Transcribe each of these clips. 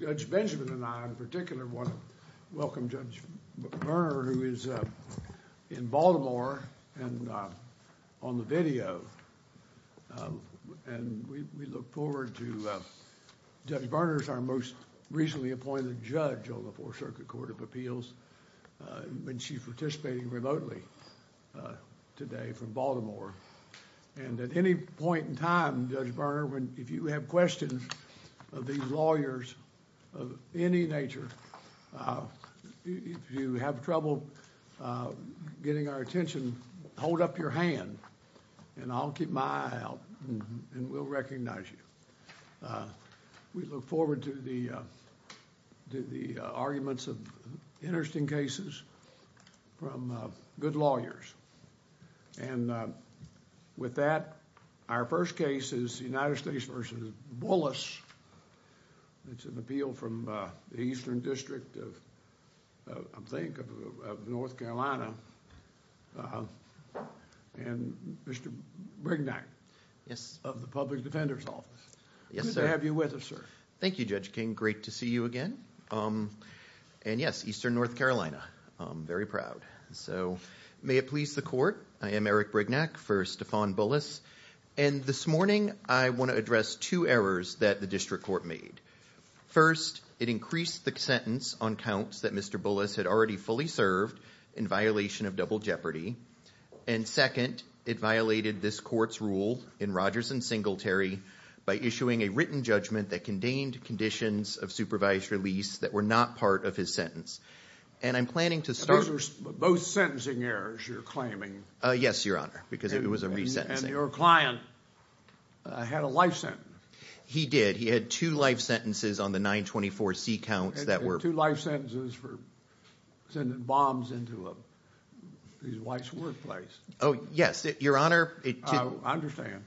Judge Benjamin and I in particular want to welcome Judge Berner, who is in Baltimore and on the video. And we look forward to Judge Berner, our most recently appointed judge on the Fourth Circuit Court of Appeals, when she's participating remotely today from Baltimore. And at any point in time, Judge Berner, if you have questions of these lawyers of any nature, if you have trouble getting our attention, hold up your hand and I'll keep my eye out and we'll recognize you. We look forward to the arguments of interesting cases from good lawyers. And with that, our first case is United States v. Bullis. It's an appeal from the Eastern District of, I think, of North Carolina. And Mr. Brignac of the Public Defender's Office. Good to have you with us, sir. Thank you, Judge King. Great to see you again. And yes, Eastern North Carolina. I'm very proud. So may it please the court, I am Eric Brignac for Stephan Bullis. And this morning I want to address two errors that the district court made. First, it increased the sentence on counts that Mr. Bullis had already fully served in violation of double jeopardy. And second, it violated this court's rule in Rogers and Singletary by issuing a written judgment that contained conditions of supervised release that were not part of his sentence. And I'm planning to start... Both sentencing errors, you're claiming. Yes, Your Honor, because it was a resentencing. And your client had a life sentence. He did. He had two life sentences on the 924c counts that were... Two life sentences for sending bombs into his wife's workplace. Oh, yes, Your Honor. I understand.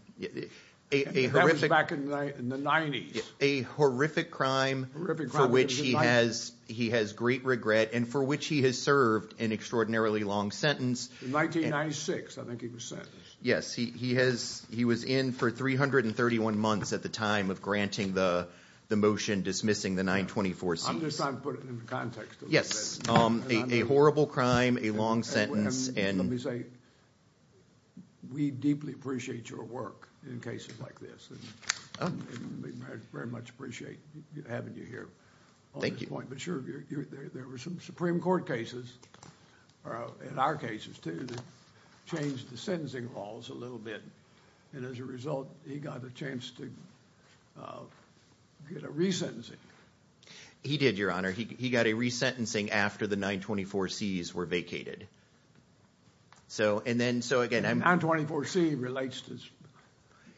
That was back in the 90s. A horrific crime for which he has great regret and for which he has served an extraordinarily long sentence. In 1996, I think he was sentenced. Yes, he was in for 331 months at the time of granting the motion dismissing the 924c. I'm just trying to put it in context. Yes, a horrible crime, a long sentence, and... Let me say, we deeply appreciate your work in cases like this. We very much appreciate having you here. Thank you. But sure, there were some Supreme Court cases, and our cases too, that changed the sentencing laws a little bit. And as a result, he got a chance to get a resentencing. He did, Your Honor. He got a resentencing after the 924c's were vacated. And 924c relates to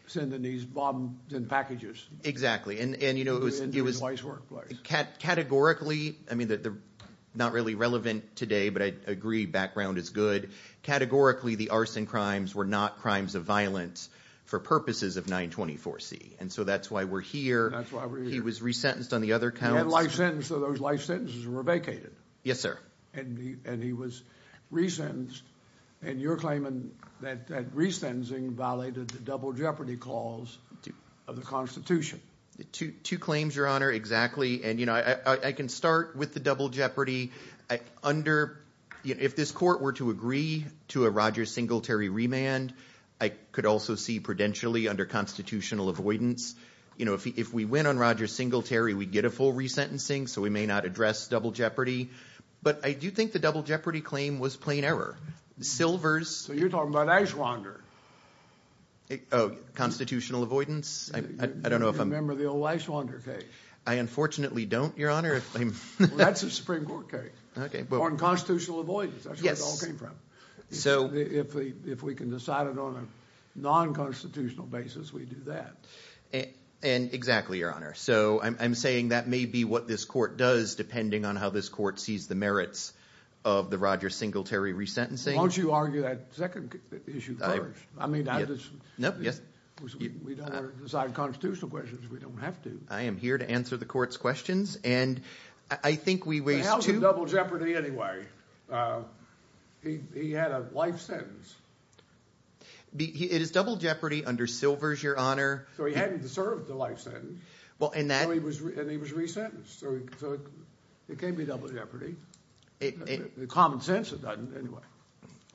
sending these bombs in packages. Exactly. And you know, it was... Into his wife's workplace. Categorically, I mean, they're not really relevant today, but I agree background is good. Categorically, the arson crimes were not crimes of violence for purposes of 924c, and so that's why we're here. That's why we're here. He was resentenced on the other counts. He had life sentences, so those life sentences were vacated. Yes, sir. And he was resentenced, and you're claiming that that resentencing violated the double jeopardy clause of the Constitution. Two claims, Your Honor, exactly. And, if this court were to agree to a Roger Singletary remand, I could also see prudentially under constitutional avoidance. If we win on Roger Singletary, we'd get a full resentencing, so we may not address double jeopardy. But I do think the double jeopardy claim was plain error. Silvers... So you're talking about Eichwander. Oh, constitutional avoidance? I don't know if I'm... You remember the old Eichwander case. I unfortunately don't, Your Honor. That's a Supreme Court case on constitutional avoidance. That's where it all came from. If we can decide it on a non-constitutional basis, we do that. And exactly, Your Honor. So I'm saying that may be what this court does, depending on how this court sees the merits of the Roger Singletary resentencing. Why don't you argue that second issue first? I mean, I just... No, yes. We don't want to decide constitutional questions. We don't have to. I am here to answer the court's questions. And I think we... How is it double jeopardy anyway? He had a life sentence. It is double jeopardy under Silvers, Your Honor. So he hadn't deserved the life sentence. Well, and that... And he was resentenced. So it can't be double jeopardy. In common sense, it doesn't anyway.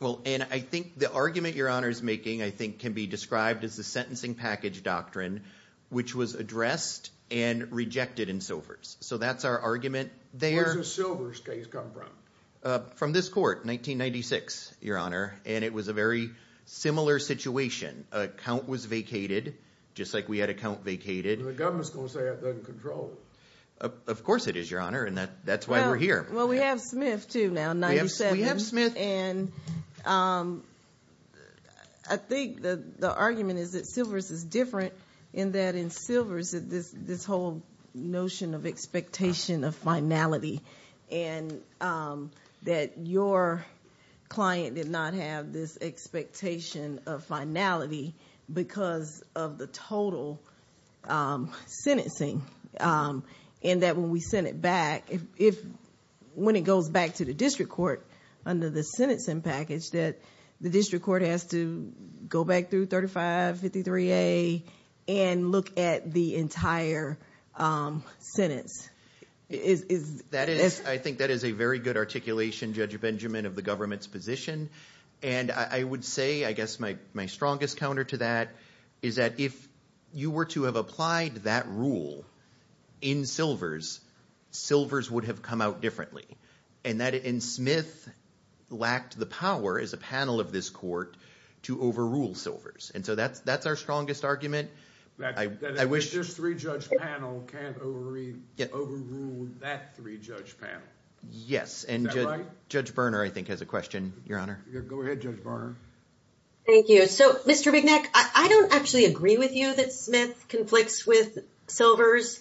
Well, and I think the argument Your Honor is making, I think, can be described as the sentencing package doctrine, which was addressed and rejected in Silvers. So that's our argument there. Where's the Silvers case come from? From this court, 1996, Your Honor. And it was a very similar situation. A count was vacated, just like we had a count vacated. The government's going to say that doesn't control it. Of course it is, Your Honor. And that's why we're here. Well, we have Smith too now, in 97. We have Smith. And I think the argument is that Silvers is different, in that in Silvers, this whole notion of expectation of finality, and that your client did not have this expectation of finality because of the total sentencing. And that when we send it back, when it goes back to the district court under the sentencing package, that the district court has to go back through 3553A and look at the entire sentence. I think that is a very good articulation, Judge Benjamin, of the government's position. And I would say, I guess my strongest counter to that is that if you were to have applied that rule in Silvers, Silvers would have come out differently. And Smith lacked the power, as a panel of this court, to overrule Silvers. And so that's our strongest argument. This three-judge panel can't overrule that three-judge panel. Yes. And Judge Berner, I think, has a question, Your Honor. Go ahead, Judge Berner. Thank you. So, Mr. Bigneck, I don't actually agree with you that Smith conflicts with Silvers.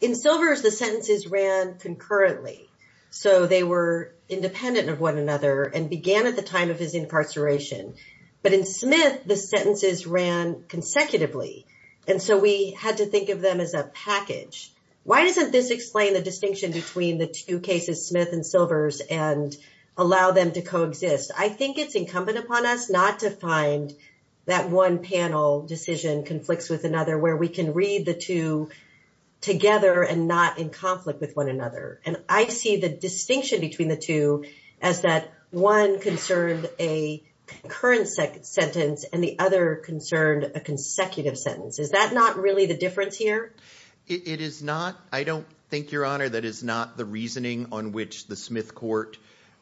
In Silvers, the sentences ran concurrently. So they were independent of one another and began at the time of his incarceration. But in Smith, the sentences ran consecutively. And so we had to think of them as a package. Why doesn't this explain the distinction between the two cases, Smith and Silvers, and allow them to coexist? I think it's incumbent upon us not to find that one panel decision conflicts with another, where we can read the two together and not in conflict with one another. And I see the distinction between the two as that one concerned a concurrent sentence and the other concerned a consecutive sentence. Is that not really the difference here? It is not. I don't think, Your Honor, that is not the reasoning on which the Smith court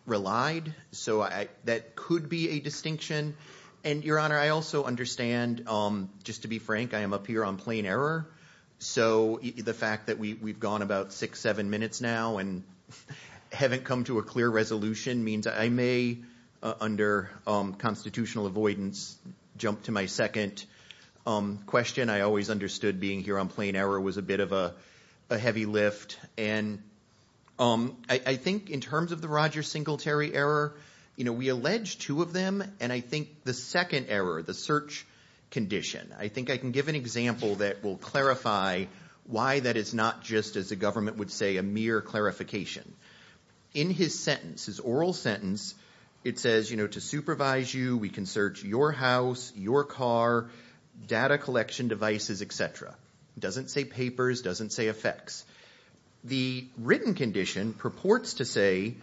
relied. So that could be a distinction. And, Your Honor, I also understand, just to be frank, I am up here on plain error. So the fact that we've gone about six, seven minutes now and haven't come to a clear resolution means I may, under constitutional avoidance, jump to my second question. I always understood being here on plain error was a bit of a heavy lift. And I think in terms of the Roger Singletary error, we allege two of them. And I think the second error, the search condition, I think I can give an example that will clarify why that is not just, as the government would say, a mere clarification. In his sentence, his oral sentence, it says, to supervise you, we can search your house, your car, data collection devices, et cetera. Doesn't say papers. Doesn't say effects. The written condition purports to say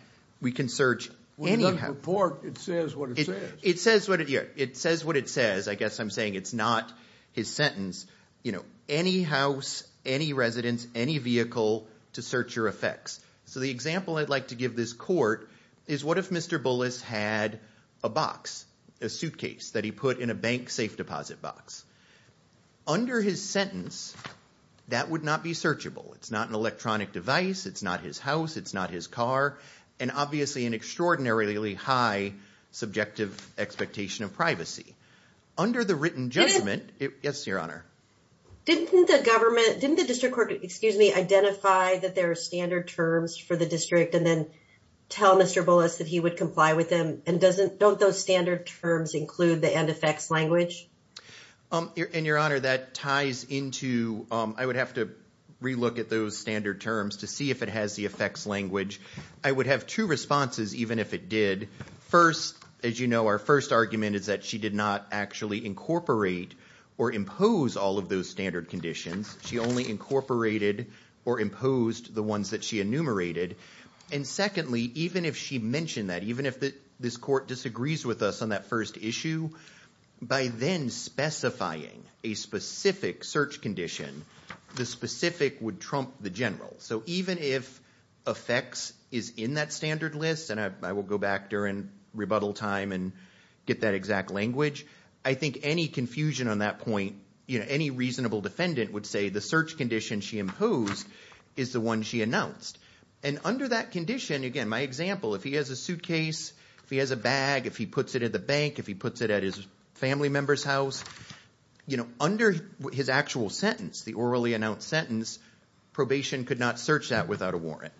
we can search any house. It doesn't purport. It says what it says. It says what it says. I guess I'm saying it's not his sentence. You know, any house, any residence, any vehicle to search your effects. So the example I'd like to give this court is what if Mr. Bullis had a box, a suitcase that he put in a bank safe deposit box? Under his sentence, that would not be searchable. It's not an electronic device. It's not his house. It's not his car. And obviously, an extraordinarily high subjective expectation of privacy. Under the written judgment, yes, your honor. Didn't the government, didn't the district court, excuse me, identify that there are standard terms for the district and then tell Mr. Bullis that he would comply with them? And don't those standard terms include the end effects language? And your honor, that ties into, I would have to relook at those standard terms to see if it has the effects language. I would have two responses, even if it did. First, as you know, our first argument is that she did not actually incorporate or impose all of those standard conditions. She only incorporated or imposed the ones that she enumerated. And secondly, even if she mentioned that, even if this court disagrees with us on that issue, by then specifying a specific search condition, the specific would trump the general. So even if effects is in that standard list, and I will go back during rebuttal time and get that exact language, I think any confusion on that point, any reasonable defendant would say the search condition she imposed is the one she announced. And under that condition, again, my example, if he has a suitcase, if he has a bag, if he puts it in the bank, if he puts it at his family member's house, under his actual sentence, the orally announced sentence, probation could not search that without a warrant.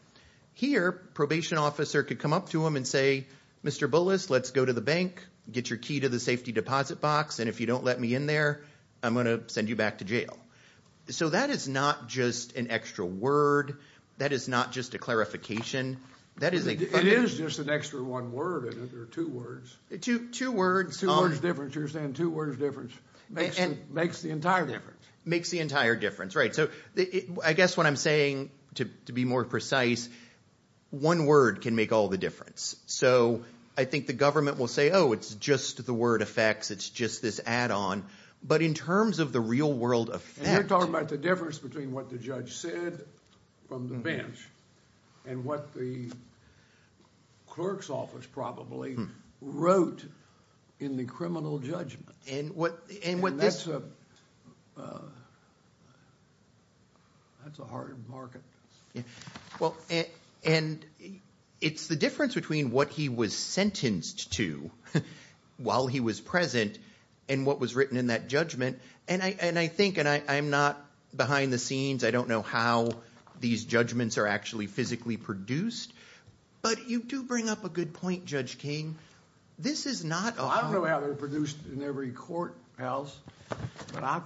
Here, probation officer could come up to him and say, Mr. Bullis, let's go to the bank, get your key to the safety deposit box. And if you don't let me in there, I'm going to send you back to jail. So that is not just an extra word. That is not just a clarification. It is just an extra one word. Or two words. Two words. Two words difference. You're saying two words difference makes the entire difference. Makes the entire difference, right. So I guess what I'm saying, to be more precise, one word can make all the difference. So I think the government will say, oh, it's just the word effects. It's just this add-on. But in terms of the real world effect. And you're talking about the difference between what the judge said from the bench and what the clerk's office probably wrote in the criminal judgment. And that's a hard market. Well, and it's the difference between what he was sentenced to while he was present and what was written in that judgment. And I think, and I'm not behind the scenes. I don't know how these judgments are actually physically produced. But you do bring up a good point, Judge King. This is not a- I don't know how they're produced in every courthouse. But I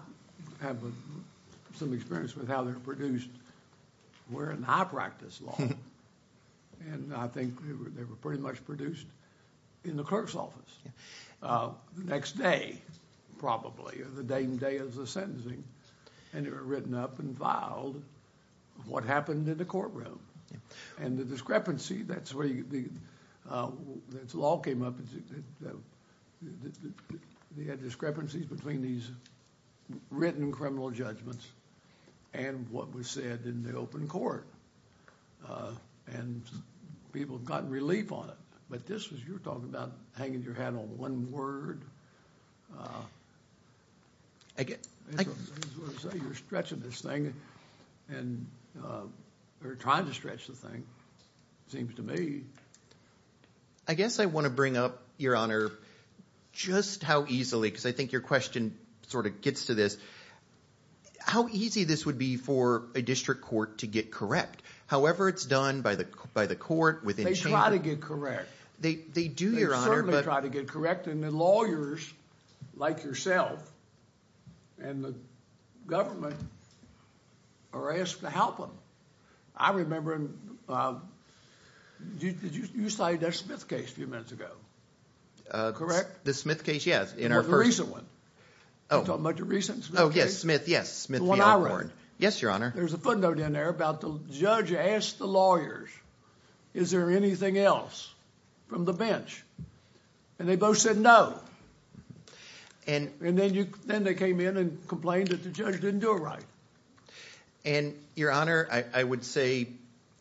have some experience with how they're produced where in high practice law. And I think they were pretty much produced in the clerk's office. The next day, probably, or the day and day of the sentencing. And they were written up and filed what happened in the courtroom. And the discrepancy, that's where the law came up. They had discrepancies between these written criminal judgments and what was said in the open court. And people got relief on it. But this was, you're talking about hanging your hat on one word. I guess- I was going to say, you're stretching this thing. And you're trying to stretch the thing, it seems to me. I guess I want to bring up, Your Honor, just how easily, because I think your question sort of gets to this. How easy this would be for a district court to get correct? However it's done by the court within the chamber- They try to get correct. They do, Your Honor, but- like yourself, and the government are asked to help them. I remember, you cited that Smith case a few minutes ago, correct? The Smith case, yes, in our first- The recent one. You're talking about the recent Smith case? Oh, yes, Smith, yes. The one I wrote. Yes, Your Honor. There's a footnote in there about the judge asked the lawyers, is there anything else from the bench? And they both said no. And then they came in and complained that the judge didn't do it right. And, Your Honor, I would say-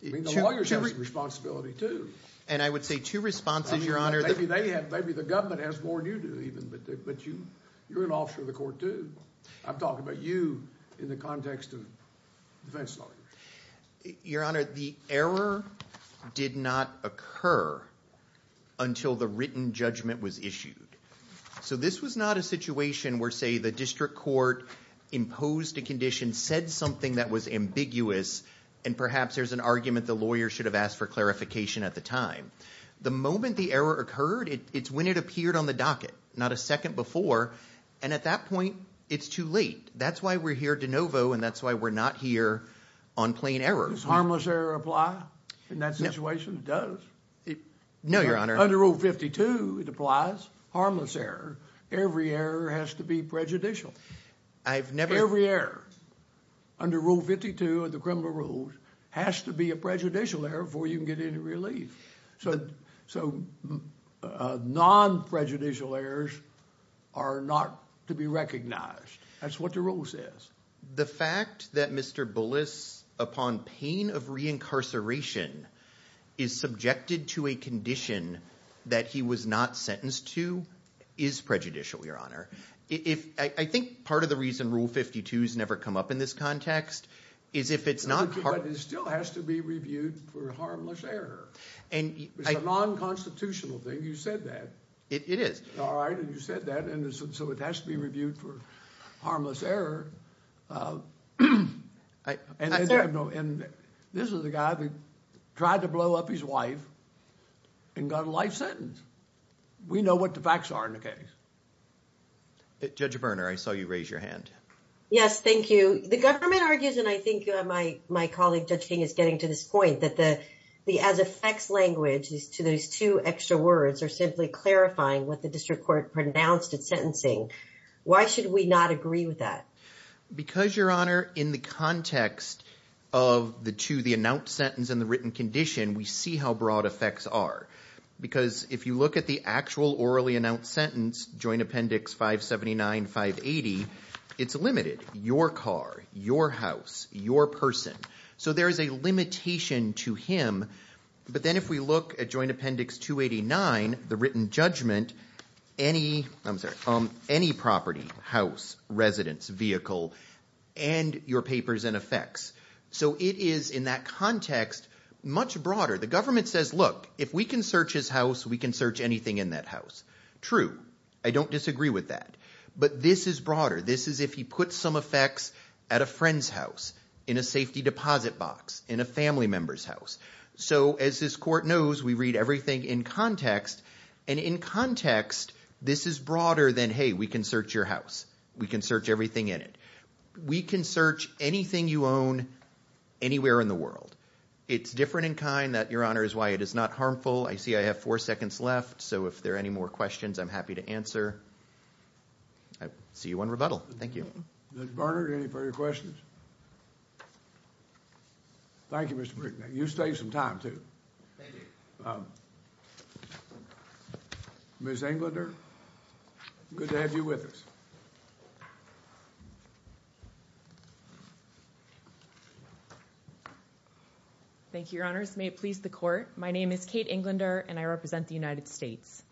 I mean, the lawyers have some responsibility too. And I would say two responses, Your Honor- Maybe they have, maybe the government has more than you do even, but you're an officer of the court too. I'm talking about you in the context of defense lawyers. Your Honor, the error did not occur until the written judgment was issued. So this was not a situation where, say, the district court imposed a condition, said something that was ambiguous, and perhaps there's an argument the lawyer should have asked for clarification at the time. The moment the error occurred, it's when it appeared on the docket, not a second before. And at that point, it's too late. That's why we're here de novo, and that's why we're not here on plain error. Does harmless error apply in that situation? It does. No, Your Honor. Under Rule 52, it applies. Harmless error. Every error has to be prejudicial. I've never- Every error under Rule 52 of the criminal rules has to be a prejudicial error before you can get any relief. So non-prejudicial errors are not to be recognized. That's what the rule says. The fact that Mr. Bullis, upon pain of reincarceration, is subjected to a condition that he was not sentenced to is prejudicial, Your Honor. I think part of the reason Rule 52 has never come up in this context is if it's not- But it still has to be reviewed for harmless error. It's a non-constitutional thing. You said that. It is. All right. And you said that. And so it has to be reviewed for harmless error. And this is the guy that tried to blow up his wife and got a life sentence. We know what the facts are in the case. Judge Berner, I saw you raise your hand. Yes, thank you. The government argues, and I think my colleague, Judge King, is getting to this point that the as-effects language to those two extra words are simply clarifying what the district court pronounced its sentencing. Why should we not agree with that? Because, Your Honor, in the context of the two, the announced sentence and the written condition, we see how broad effects are. Because if you look at the actual orally announced sentence, Joint Appendix 579-580, it's limited. Your car, your house, your person. So there is a limitation to him. But then if we look at Joint Appendix 289, the written judgment, any property, house, residence, vehicle, and your papers and effects. So it is, in that context, much broader. The government says, look, if we can search his house, we can search anything in that house. True. I don't disagree with that. But this is broader. This is if he puts some effects at a friend's house, in a safety deposit box, in a family member's house. So as this court knows, we read everything in context. And in context, this is broader than, hey, we can search your house. We can search everything in it. We can search anything you own anywhere in the world. It's different in kind that, Your Honor, is why it is not harmful. I see I have four seconds left. So if there are any more questions, I'm happy to answer. I see you in rebuttal. Thank you. Ms. Barnard, any further questions? Thank you, Mr. Brinkman. You saved some time, too. Thank you. Ms. Englander, good to have you with us. Thank you, Your Honors. May it please the court. My name is Kate Englander, and I represent the United States.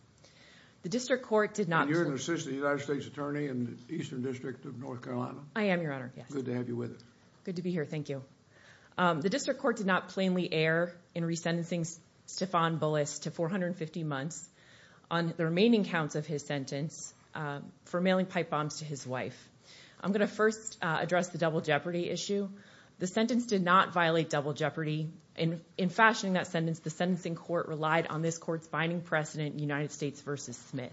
The district court did not make a motion. You're an assistant United States attorney in the Eastern District of North Carolina. I am, Your Honor. Good to have you with us. Good to be here. Thank you. The district court did not plainly err in resentencing Stefan Bullis to 450 months on the remaining counts of his sentence for mailing pipe bombs to his wife. I'm going to first address the double jeopardy issue. The sentence did not violate double jeopardy. In fashioning that sentence, the sentencing court relied on this court's binding precedent, United States v. Smith.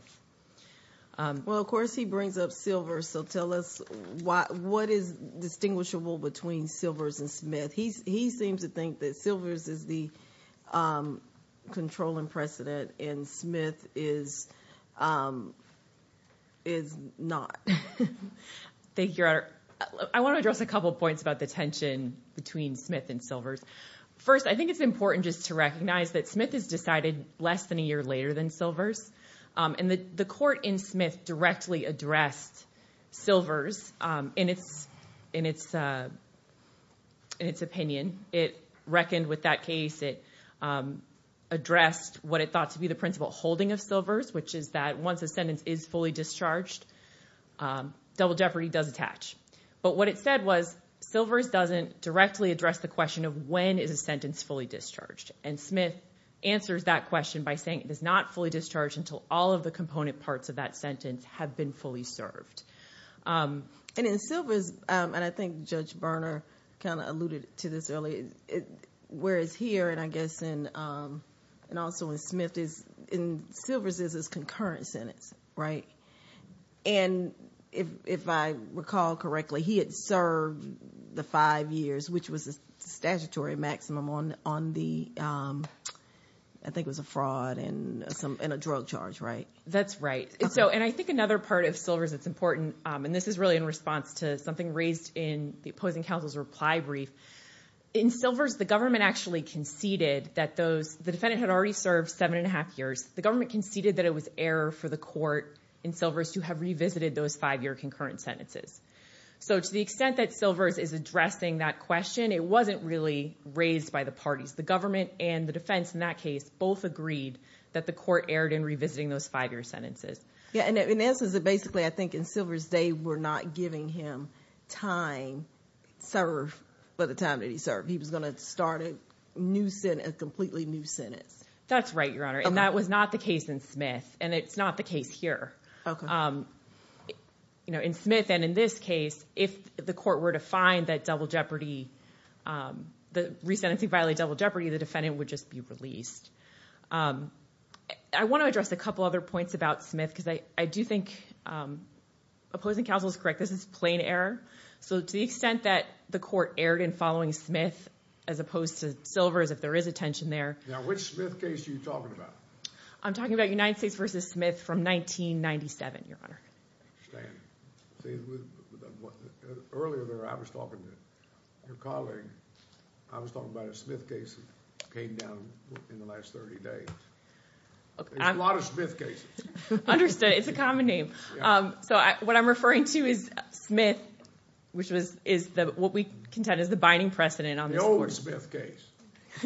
Well, of course, he brings up Silvers. So tell us what is distinguishable between Silvers and Smith. He seems to think that Silvers is the controlling precedent and Smith is not. Thank you, Your Honor. I want to address a couple of points about the tension between Smith and Silvers. First, I think it's important just to recognize that Smith is decided less than a year later than Silvers. And the court in Smith directly addressed Silvers in its opinion. It reckoned with that case. It addressed what it thought to be the principle holding of Silvers, which is that once a sentence is fully discharged, double jeopardy does attach. But what it said was Silvers doesn't directly address the question of when is a sentence fully discharged. And Smith answers that question by saying it is not fully discharged until all of the component parts of that sentence have been fully served. And in Silvers, and I think Judge Berner kind of alluded to this earlier, whereas here, and I guess and also in Smith, in Silvers is this concurrent sentence, right? And if I recall correctly, he had served the five years, which was a statutory maximum on the, I think it was a fraud and a drug charge, right? That's right. So, and I think another part of Silvers that's important, and this is really in response to something raised in the opposing counsel's reply brief. In Silvers, the government actually conceded that those, the defendant had already served seven and a half years. The government conceded that it was error for the court in Silvers to have revisited those five-year concurrent sentences. So, to the extent that Silvers is addressing that question, it wasn't really raised by the parties. The government and the defense in that case both agreed that the court erred in revisiting those five-year sentences. Yeah, and in essence, basically, I think in Silvers, they were not giving him time to serve by the time that he served. He was going to start a new sentence, a completely new sentence. That's right, Your Honor. And that was not the case in Smith. And it's not the case here. Okay. You know, in Smith and in this case, if the court were to find that double jeopardy, the resentencing violated double jeopardy, the defendant would just be released. I want to address a couple other points about Smith, because I do think opposing counsel is correct. This is plain error. So, to the extent that the court erred in following Smith, as opposed to Silvers, if there is a tension there. Now, which Smith case are you talking about? I'm talking about United States v. Smith from 1997, Your Honor. I understand. See, earlier there, I was talking to your colleague. I was talking about a Smith case that came down in the last 30 days. A lot of Smith cases. Understood. It's a common name. So, what I'm referring to is Smith, which is what we contend is the binding precedent on this court. The old Smith case,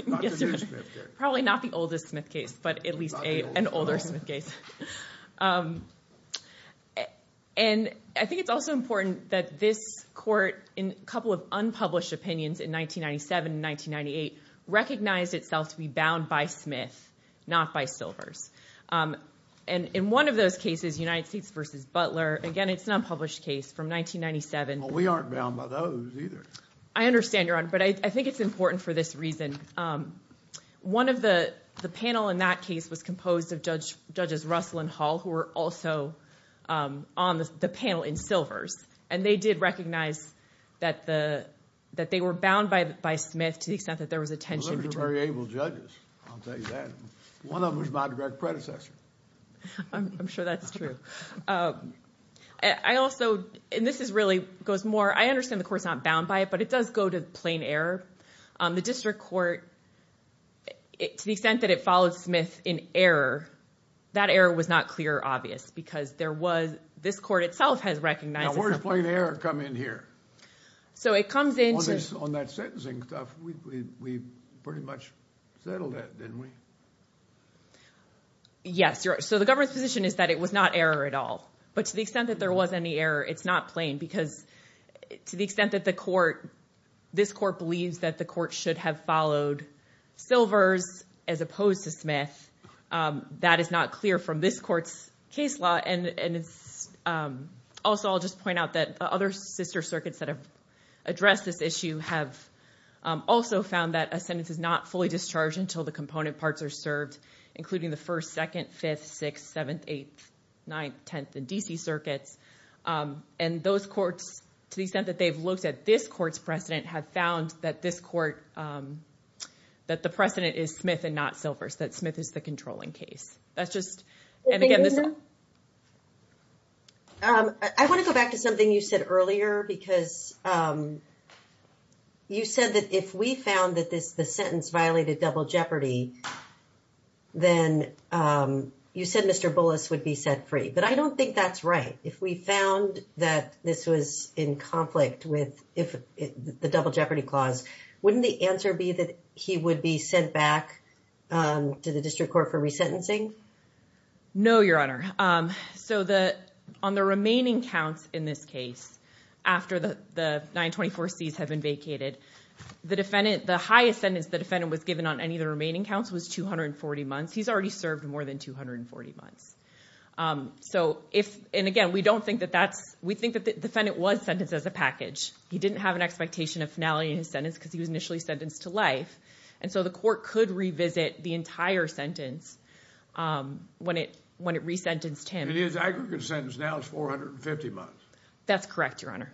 not the new Smith case. Probably not the oldest Smith case, but at least an older Smith case. And I think it's also important that this court, in a couple of unpublished opinions in 1997 and 1998, recognized itself to be bound by Smith, not by Silvers. And in one of those cases, United States v. Butler, again, it's an unpublished case from 1997. Well, we aren't bound by those either. I understand, Your Honor. But I think it's important for this reason. And one of the panel in that case was composed of Judges Russell and Hall, who were also on the panel in Silvers. And they did recognize that they were bound by Smith to the extent that there was a tension between them. Well, they were very able judges. I'll tell you that. One of them was my direct predecessor. I'm sure that's true. I also, and this is really, goes more, I understand the court's not bound by it, but it does go to plain error. The district court, to the extent that it followed Smith in error, that error was not clear or obvious, because there was, this court itself has recognized itself. Now, where did plain error come in here? So it comes into... On that sentencing stuff, we pretty much settled that, didn't we? Yes, Your Honor. So the government's position is that it was not error at all. But to the extent that there was any error, it's not plain because to the extent that the court, this court believes that the court should have followed Silvers as opposed to Smith, that is not clear from this court's case law. And also, I'll just point out that other sister circuits that have addressed this issue have also found that a sentence is not fully discharged until the component parts are served, including the First, Second, Fifth, Sixth, Seventh, Eighth, Ninth, Tenth, and D.C. circuits. And those courts, to the extent that they've looked at this court's precedent, have found that this court, that the precedent is Smith and not Silvers, that Smith is the controlling case. That's just, and again, this... I want to go back to something you said earlier, because you said that if we found that the sentence violated double jeopardy, then you said Mr. Bullis would be set free. But I don't think that's right. If we found that this was in conflict with the double jeopardy clause, wouldn't the answer be that he would be sent back to the district court for resentencing? No, Your Honor. So, on the remaining counts in this case, after the 924Cs have been vacated, the defendant, the highest sentence the defendant was given on any of the remaining counts was 240 months. He's already served more than 240 months. So, if, and again, we don't think that that's, we think that the defendant was sentenced as a package. He didn't have an expectation of finality in his sentence because he was initially sentenced to life. And so, the court could revisit the entire sentence when it resentenced him. And his aggregate sentence now is 450 months. That's correct, Your Honor.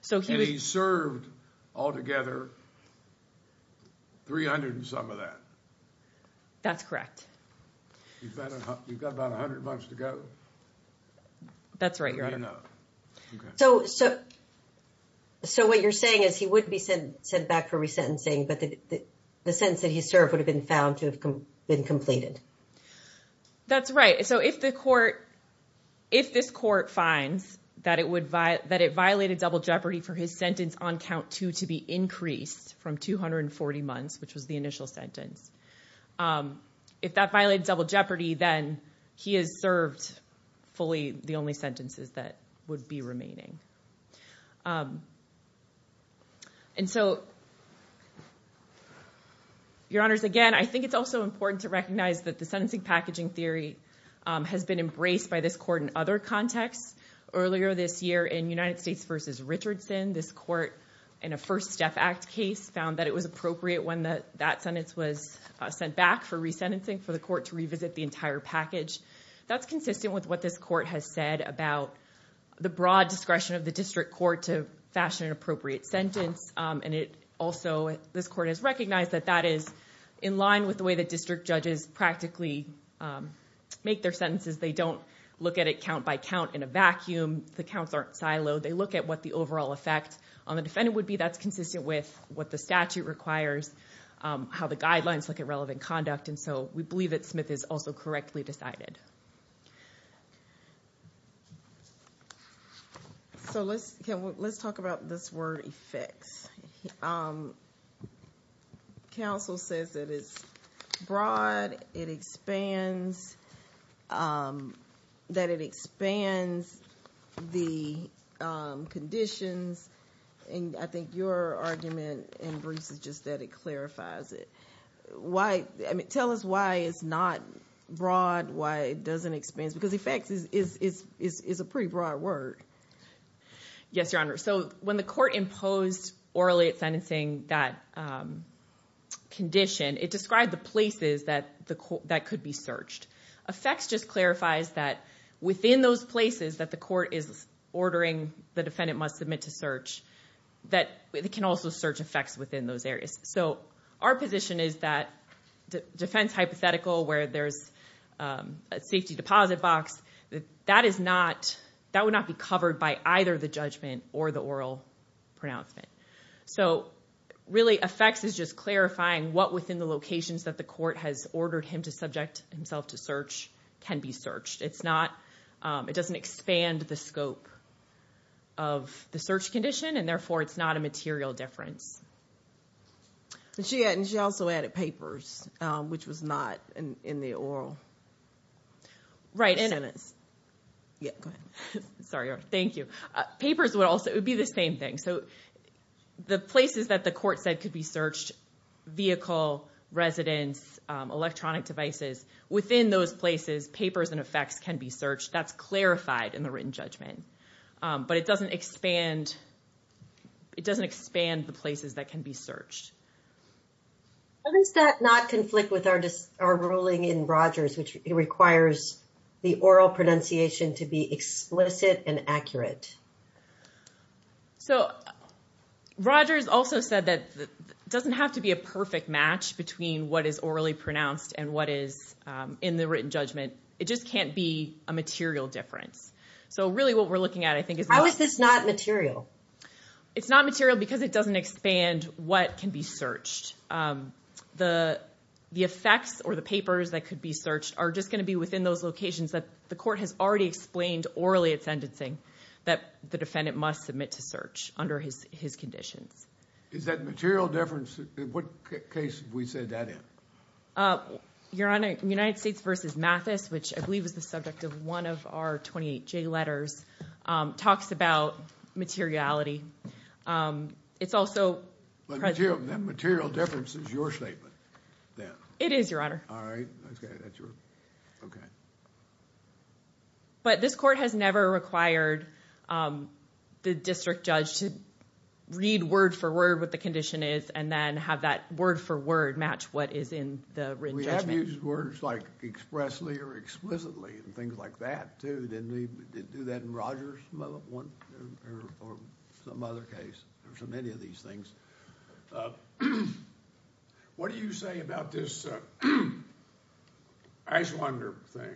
So, he was... And he served, altogether, 300 and some of that. That's correct. You've got about 100 months to go. That's right, Your Honor. So, what you're saying is he would be sent back for resentencing, but the sentence that he served would have been found to have been completed. That's right. So, if the court, if this court finds that it violated double jeopardy for his sentence on count two to be increased from 240 months, which was the initial sentence, if that violated double jeopardy, then he has served fully the only sentences that would be remaining. And so, Your Honors, again, I think it's also important to recognize that the sentencing packaging theory has been embraced by this court in other contexts. Earlier this year, in United States v. Richardson, this court, in a First Step Act case, found that it was appropriate when that sentence was sent back for resentencing for the court to revisit the entire package. That's consistent with what this court has said about the broad discretion of the district court to fashion an appropriate sentence. And also, this court has recognized that that is in line with the way that district judges practically make their sentences. They don't look at it count by count in a vacuum. The counts aren't siloed. They look at what the overall effect on the defendant would be. That's consistent with what the statute requires, how the guidelines look at relevant conduct. And so, we believe that Smith is also correctly decided. So, let's talk about this word, effects. Counsel says that it's broad, it expands, that it expands the conditions. And I think your argument, in brief, is just that it clarifies it. Tell us why it's not broad, why it doesn't expand. Because effects is a pretty broad word. Yes, Your Honor. So, when the court imposed orally at sentencing that condition, it described the places that could be searched. Effects just clarifies that within those places that the court is ordering the defendant must submit to search, that it can also search effects within those areas. So, our position is that defense hypothetical, where there's a safety deposit box, that would not be covered by either the judgment or the oral pronouncement. So, really, effects is just clarifying what within the locations that the court has ordered him to subject himself to search can be searched. It's not, it doesn't expand the scope of the search condition, and therefore, it's not a material difference. And she also added papers, which was not in the oral sentence. Yeah, go ahead. Sorry, Your Honor. Thank you. Papers would also, it would be the same thing. So, the places that the court said could be searched, vehicle, residence, electronic devices, within those places, papers and effects can be searched. That's clarified in the written judgment, but it doesn't expand the places that can be searched. How does that not conflict with our ruling in Rogers, which it requires the oral pronunciation to be explicit and accurate? So, Rogers also said that it doesn't have to be a perfect match between what is orally pronounced and what is in the written judgment. It just can't be a material difference. So, really, what we're looking at, I think is... How is this not material? It's not material because it doesn't expand what can be searched. The effects or the papers that could be searched are just going to be within those locations that the court has already explained orally at sentencing that the defendant must submit to search under his conditions. Is that material difference? In what case have we said that in? Your Honor, United States v. Mathis, which I believe is the subject of one of our 28J letters, talks about materiality. It's also... That material difference is your statement then? It is, Your Honor. All right. Okay, that's your... Okay. But this court has never required the district judge to read word-for-word what the condition is and then have that word-for-word match what is in the written judgment. We have used words like expressly or explicitly and things like that too, didn't we do that in Rogers or some other case? There's so many of these things. What do you say about this Eichwander thing?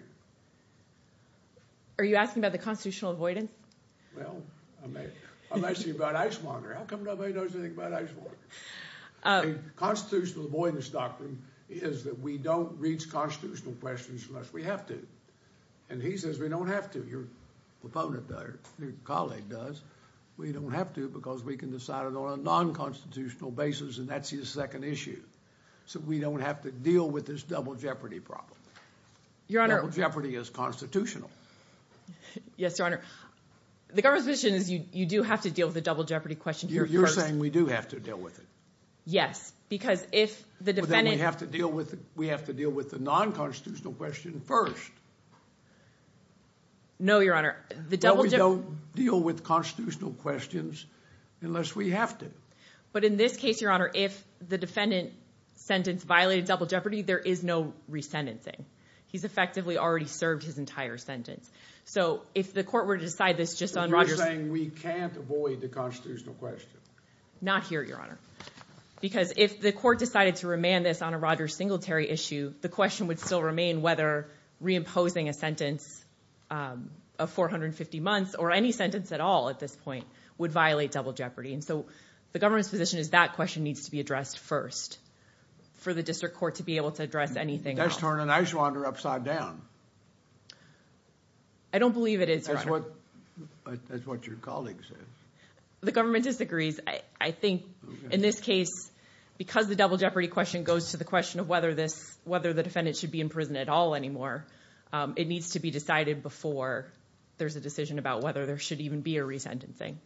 Are you asking about the constitutional avoidance? Well, I'm asking about Eichwander. How come nobody knows anything about Eichwander? Constitutional avoidance doctrine is that we don't reach constitutional questions unless we have to. And he says we don't have to. Your opponent does, your colleague does. We don't have to because we can decide it on a non-constitutional basis and that's his second issue. So we don't have to deal with this double jeopardy problem. Your Honor... Double jeopardy is constitutional. Yes, Your Honor. The government's position is you do have to deal with the double jeopardy question here first. You're saying we do have to deal with it? Yes, because if the defendant... But then we have to deal with the non-constitutional question first. No, Your Honor. Well, we don't deal with constitutional questions unless we have to. But in this case, Your Honor, if the defendant sentence violated double jeopardy, there is no resentencing. He's effectively already served his entire sentence. So if the court were to decide this just on... You're saying we can't avoid the constitutional question? Not here, Your Honor. Because if the court decided to remand this on a Rogers Singletary issue, the question would still remain whether reimposing a sentence of 450 months or any sentence at all at this point would violate double jeopardy. And so the government's position is that question needs to be addressed first for the district court to be able to address anything else. That's turning an ice wanderer upside down. I don't believe it is, Your Honor. That's what your colleague says. The government disagrees. I think in this case, because the double jeopardy question goes to the question of whether this... whether the defendant should be in prison at all anymore, it needs to be decided before there's a decision about whether there should even be a resentencing.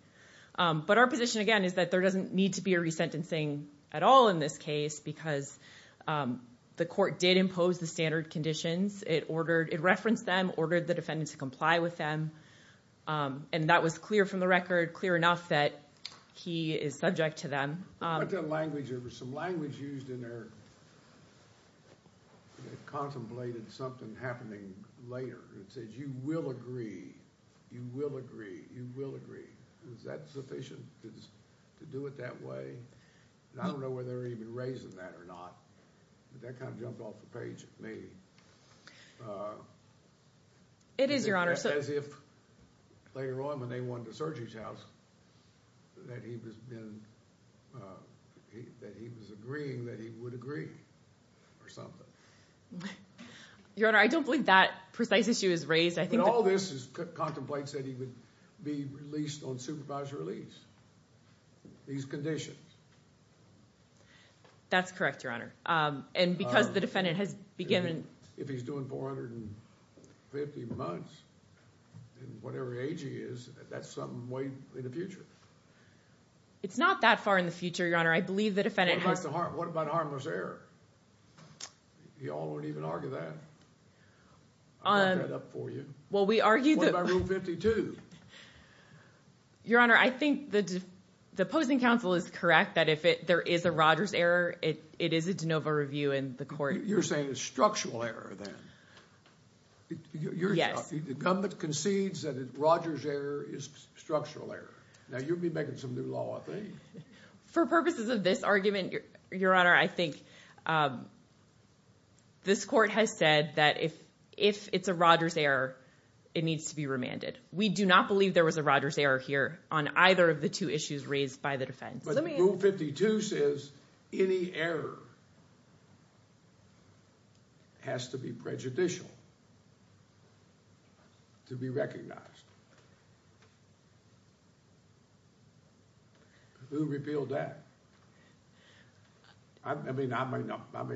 But our position, again, is that there doesn't need to be a resentencing at all in this case because the court did impose the standard conditions. It referenced them, ordered the defendant to comply with them, and that was clear from the record, clear enough that he is subject to them. What about language? There was some language used in there that contemplated something happening later. It said, you will agree. You will agree. You will agree. Is that sufficient to do it that way? And I don't know whether they're even raising that or not, but that kind of jumped off the page at me. It is, Your Honor. As if, later on, when they went to Sergei's house, that he was agreeing that he would agree or something. Your Honor, I don't believe that precise issue is raised. But all this contemplates that he would be released on supervised release. These conditions. That's correct, Your Honor. And because the defendant has begun... If he's doing 450 months in whatever age he is, that's some way in the future. It's not that far in the future, Your Honor. I believe the defendant has... What about harmless error? You all don't even argue that. I brought that up for you. Well, we argue that... What about Rule 52? Your Honor, I think the opposing counsel is correct that if there is a Rogers error, it is a de novo review in the court. You're saying it's structural error, then? Yes. The defendant concedes that a Rogers error is structural error. Now, you'll be making some new law, I think. For purposes of this argument, Your Honor, I think this court has said that if it's a Rogers error, it needs to be remanded. We do not believe there was a Rogers error here on either of the two issues raised by the defense. Rule 52 says any error has to be prejudicial to be recognized. Who repealed that? I may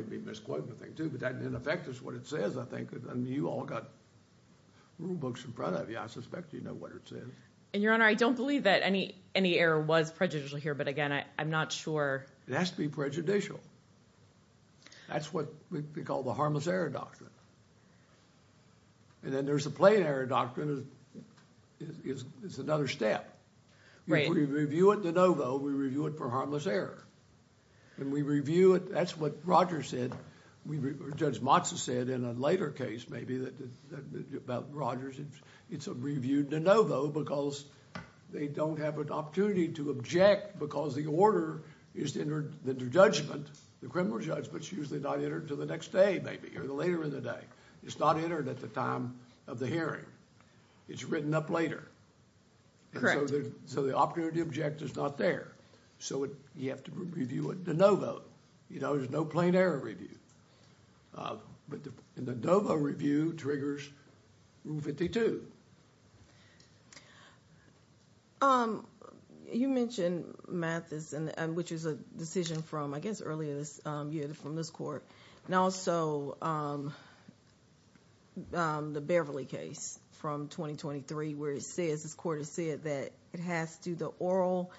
be misquoting the thing, too, but that didn't affect us what it says, I think. You all got rule books in front of you. I suspect you know what it says. Your Honor, I don't believe that any error was prejudicial here. I'm not sure... It has to be prejudicial. That's what we call the harmless error doctrine. Then there's the plain error doctrine. It's another step. We review it de novo. We review it for harmless error. When we review it, that's what Rogers said. Judge Motza said in a later case, maybe, about Rogers. It's a review de novo because they don't have an opportunity to object because the order, the judgment, the criminal judgment is usually not entered until the next day, maybe, or later in the day. It's not entered at the time of the hearing. It's written up later. So the opportunity to object is not there. You have to review it de novo. There's no plain error review. The de novo review triggers Rule 52. You mentioned Mathis, which is a decision from, I guess, earlier this year from this court. And also, the Beverly case from 2023 where it says, this court has said that it has to do the oral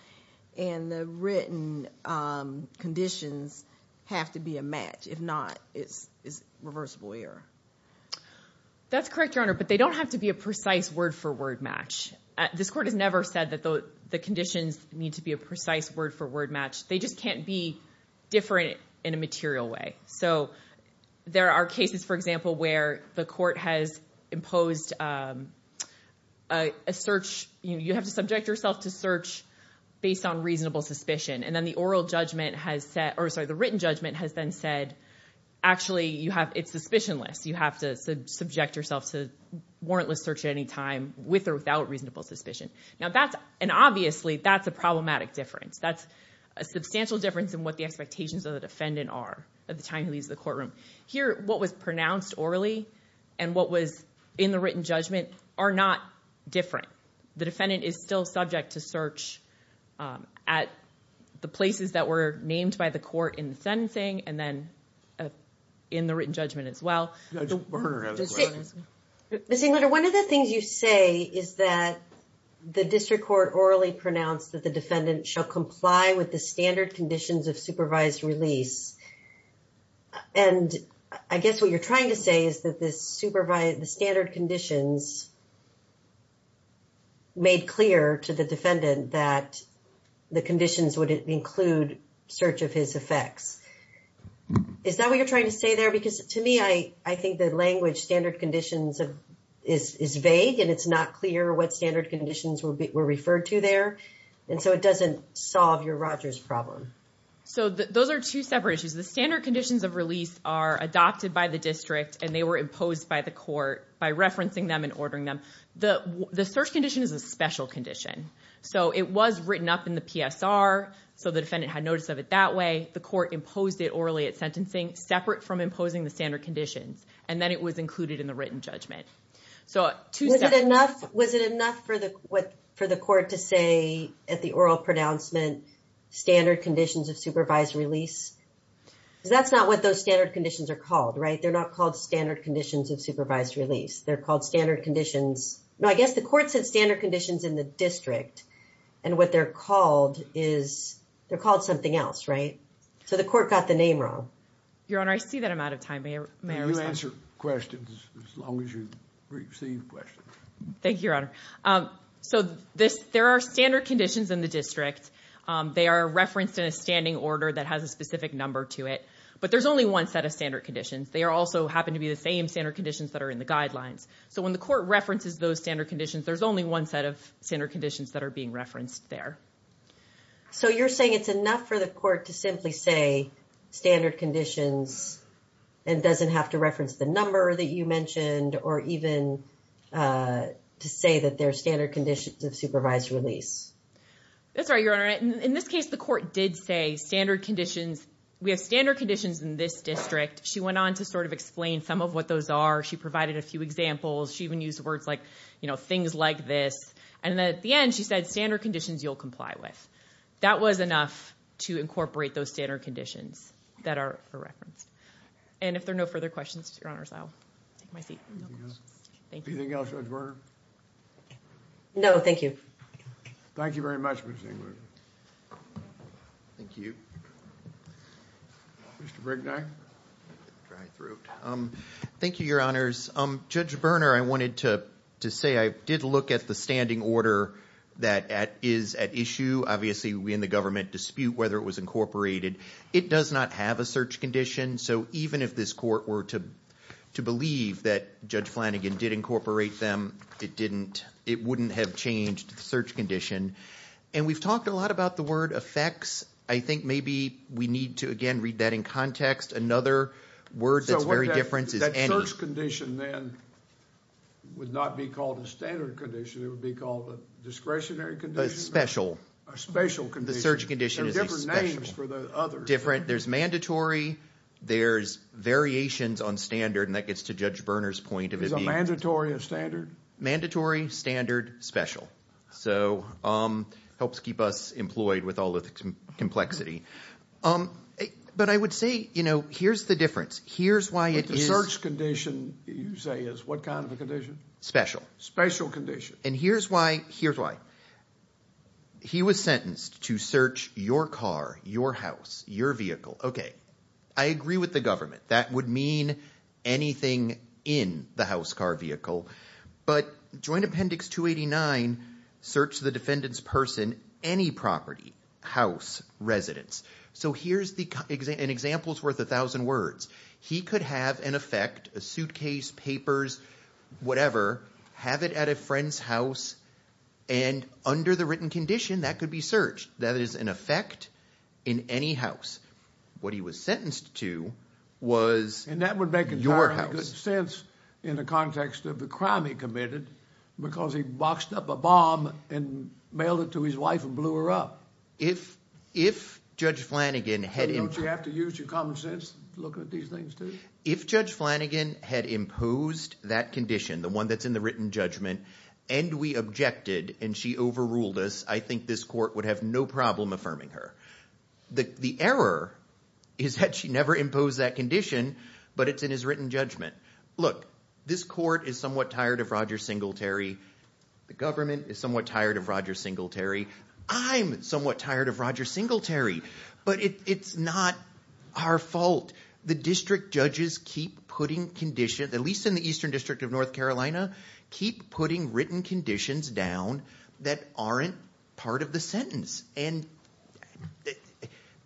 and the written conditions have to be a match. If not, it's reversible error. That's correct, Your Honor. But they don't have to be a percentage error. Word-for-word match. This court has never said that the conditions need to be a precise word-for-word match. They just can't be different in a material way. There are cases, for example, where the court has imposed a search. You have to subject yourself to search based on reasonable suspicion. And then the written judgment has then said, actually, it's suspicionless. You have to subject yourself to warrantless search at any time with or without reasonable suspicion. And obviously, that's a problematic difference. That's a substantial difference in what the expectations of the defendant are at the time he leaves the courtroom. Here, what was pronounced orally and what was in the written judgment are not different. The defendant is still subject to search at the places that were named by the court in the written judgment as well. Ms. Englander, one of the things you say is that the district court orally pronounced that the defendant shall comply with the standard conditions of supervised release. And I guess what you're trying to say is that the standard conditions made clear to the defendant that the conditions would include search of his effects. Is that what you're trying to say there? Because to me, I think the language standard conditions is vague and it's not clear what standard conditions were referred to there. And so it doesn't solve your Rogers problem. So those are two separate issues. The standard conditions of release are adopted by the district and they were imposed by the court by referencing them and ordering them. The search condition is a special condition. So it was written up in the PSR. So the defendant had notice of it that way. The court imposed it orally at sentencing, separate from imposing the standard conditions. And then it was included in the written judgment. Was it enough for the court to say at the oral pronouncement, standard conditions of supervised release? That's not what those standard conditions are called, right? They're not called standard conditions of supervised release. They're called standard conditions. No, I guess the court said standard conditions in the district. And what they're called is they're called something else, right? So the court got the name wrong. Your Honor, I see that I'm out of time. May I answer questions as long as you receive questions? Thank you, Your Honor. So there are standard conditions in the district. They are referenced in a standing order that has a specific number to it. But there's only one set of standard conditions. They are also happen to be the same standard conditions that are in the guidelines. So when the court references those standard conditions, there's only one set of standard conditions that are being referenced there. So you're saying it's enough for the court to simply say standard conditions and doesn't have to reference the number that you mentioned or even to say that they're standard conditions of supervised release? That's right, Your Honor. In this case, the court did say standard conditions. We have standard conditions in this district. She went on to sort of explain some of what those are. She provided a few examples. She even used words like, you know, things like this. And then at the end, she said, standard conditions you'll comply with. That was enough to incorporate those standard conditions that are referenced. And if there are no further questions, Your Honors, I'll take my seat. Thank you. Anything else, Judge Berner? No, thank you. Thank you very much, Ms. Engler. Thank you. Mr. Brignac? Thank you, Your Honors. Judge Berner, I wanted to say I did look at the standing order that is at issue. Obviously, we in the government dispute whether it was incorporated. It does not have a search condition. So even if this court were to believe that Judge Flanagan did incorporate them, it wouldn't have changed the search condition. And we've talked a lot about the word effects. I think maybe we need to, again, read that in context. Another word that's very different is any. The search condition, then, would not be called a standard condition. It would be called a discretionary condition? A special. A special condition. The search condition is a special. There are different names for the others. Different. There's mandatory. There's variations on standard. And that gets to Judge Berner's point of it being. Is a mandatory a standard? Mandatory, standard, special. So it helps keep us employed with all of the complexity. But I would say, you know, here's the difference. Here's why it is. The search condition, you say, is what kind of a condition? Special. Special condition. And here's why. Here's why. He was sentenced to search your car, your house, your vehicle. Okay. I agree with the government. That would mean anything in the house, car, vehicle. But Joint Appendix 289, search the defendant's person, any property, house, residence. So here's an example's worth a thousand words. He could have an effect, a suitcase, papers, whatever. Have it at a friend's house. And under the written condition, that could be searched. That is an effect in any house. What he was sentenced to was your house. And that would make entirely good sense in the context of the crime he committed. Because he boxed up a bomb and mailed it to his wife and blew her up. If Judge Flanagan had. Don't you have to use your common sense looking at these things too? If Judge Flanagan had imposed that condition, the one that's in the written judgment, and we objected and she overruled us, I think this court would have no problem affirming her. The error is that she never imposed that condition, but it's in his written judgment. Look, this court is somewhat tired of Roger Singletary. The government is somewhat tired of Roger Singletary. I'm somewhat tired of Roger Singletary. But it's not our fault. The district judges keep putting conditions, at least in the Eastern District of North Carolina, keep putting written conditions down that aren't part of the sentence. And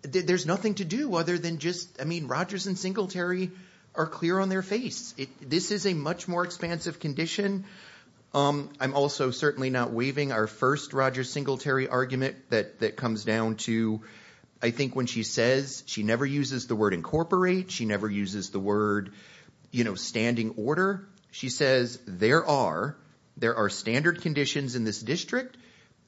there's nothing to do other than just, I mean, Rogers and Singletary are clear on their face. This is a much more expansive condition. I'm also certainly not waiving our first Roger Singletary argument that comes down to, I think when she says she never uses the word incorporate, she never uses the word standing order. She says there are standard conditions in this district.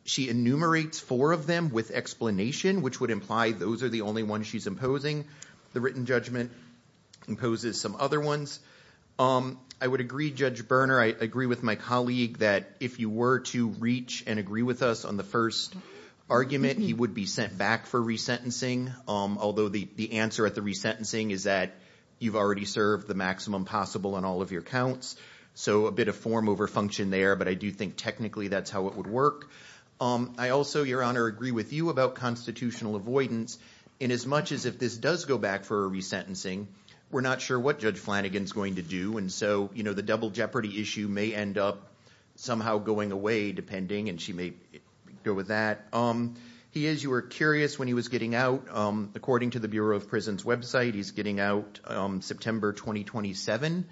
She enumerates four of them with explanation, which would imply those are the only ones she's imposing. The written judgment imposes some other ones. I would agree, Judge Berner, I agree with my colleague that if you were to reach and agree with us on the first argument, he would be sent back for resentencing. Although the answer at the resentencing is that you've already served the maximum possible on all of your counts. So a bit of form over function there. But I do think technically that's how it would work. I also, Your Honor, agree with you about constitutional avoidance. And as much as if this does go back for a resentencing, we're not sure what Judge Flanagan's going to do. And so, you know, the double jeopardy issue may end up somehow going away, and she may go with that. He is, you were curious when he was getting out. According to the Bureau of Prisons website, he's getting out September 2027.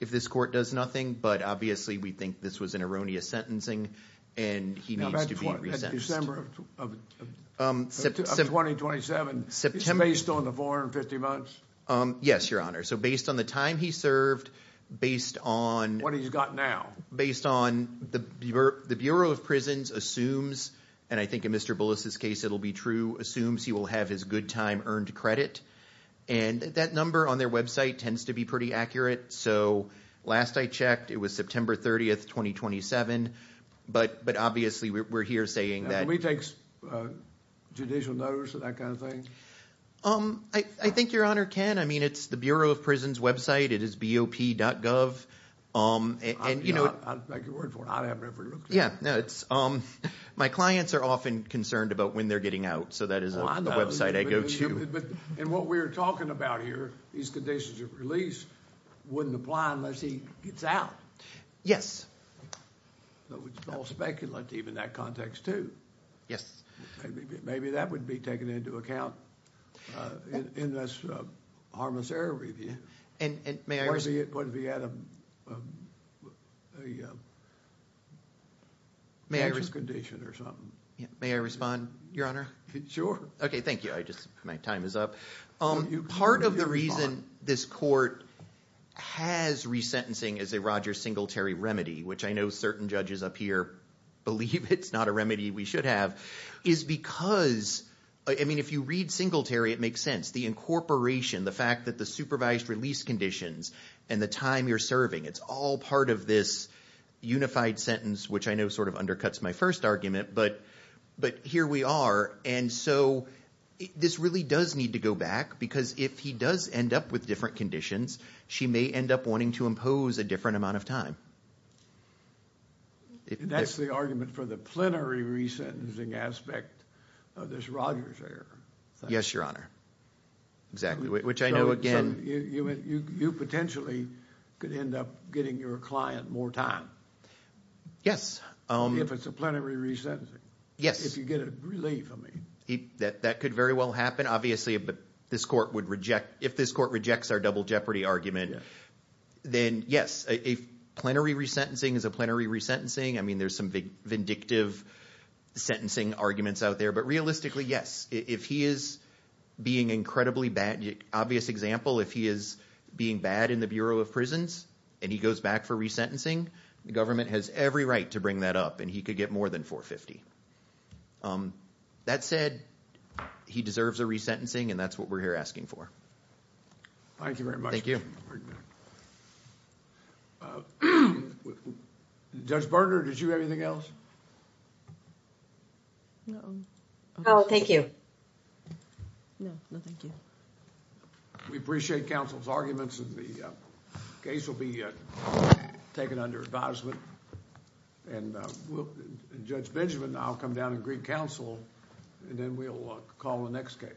If this court does nothing. But obviously, we think this was an erroneous sentencing. And he needs to be resentenced. At December of 2027, it's based on the 450 months? Yes, Your Honor. So based on the time he served, based on... What he's got now. Based on the Bureau of Prisons assumes, and I think in Mr. Bullis's case, it'll be true, assumes he will have his good time earned credit. And that number on their website tends to be pretty accurate. So last I checked, it was September 30th, 2027. But obviously, we're here saying that... We take judicial notice of that kind of thing? I think Your Honor can. I mean, it's the Bureau of Prisons website. It is BOP.gov. And you know... I'll make a word for it. I haven't ever looked at it. Yeah, no, it's... My clients are often concerned about when they're getting out. So that is a website I go to. And what we're talking about here, these conditions of release wouldn't apply unless he gets out. Yes. Though it's all speculative in that context, too. Yes. Maybe that would be taken into account in this harmless error review. And may I... What if he had a... May I... May I respond, Your Honor? Sure. Okay, thank you. I just... My time is up. Part of the reason this court has resentencing as a Roger Singletary remedy, which I know certain judges up here believe it's not a remedy we should have, is because... I mean, if you read Singletary, it makes sense. The incorporation, the fact that the supervised release conditions and the time you're serving, it's all part of this unified sentence, which I know sort of undercuts my first argument, but here we are. And so this really does need to go back because if he does end up with different conditions, she may end up wanting to impose a different amount of time. That's the argument for the plenary resentencing aspect of this Rogers error. Yes, Your Honor. Exactly, which I know, again... You potentially could end up getting your client more time. Yes. If it's a plenary resentencing. Yes. If you get a relief, I mean. That could very well happen. Obviously, this court would reject... If this court rejects our double jeopardy argument, then yes, a plenary resentencing is a plenary resentencing. I mean, there's some vindictive sentencing arguments out there, but realistically, yes. If he is being incredibly bad... Obvious example, if he is being bad in the Bureau of Prisons and he goes back for resentencing, the government has every right to bring that up and he could get more than 450. That said, he deserves a resentencing and that's what we're here asking for. Thank you very much. Judge Berger, did you have anything else? No. No, thank you. We appreciate counsel's arguments and the case will be taken under advisement. And Judge Benjamin, I'll come down and greet counsel and then we'll call the next case.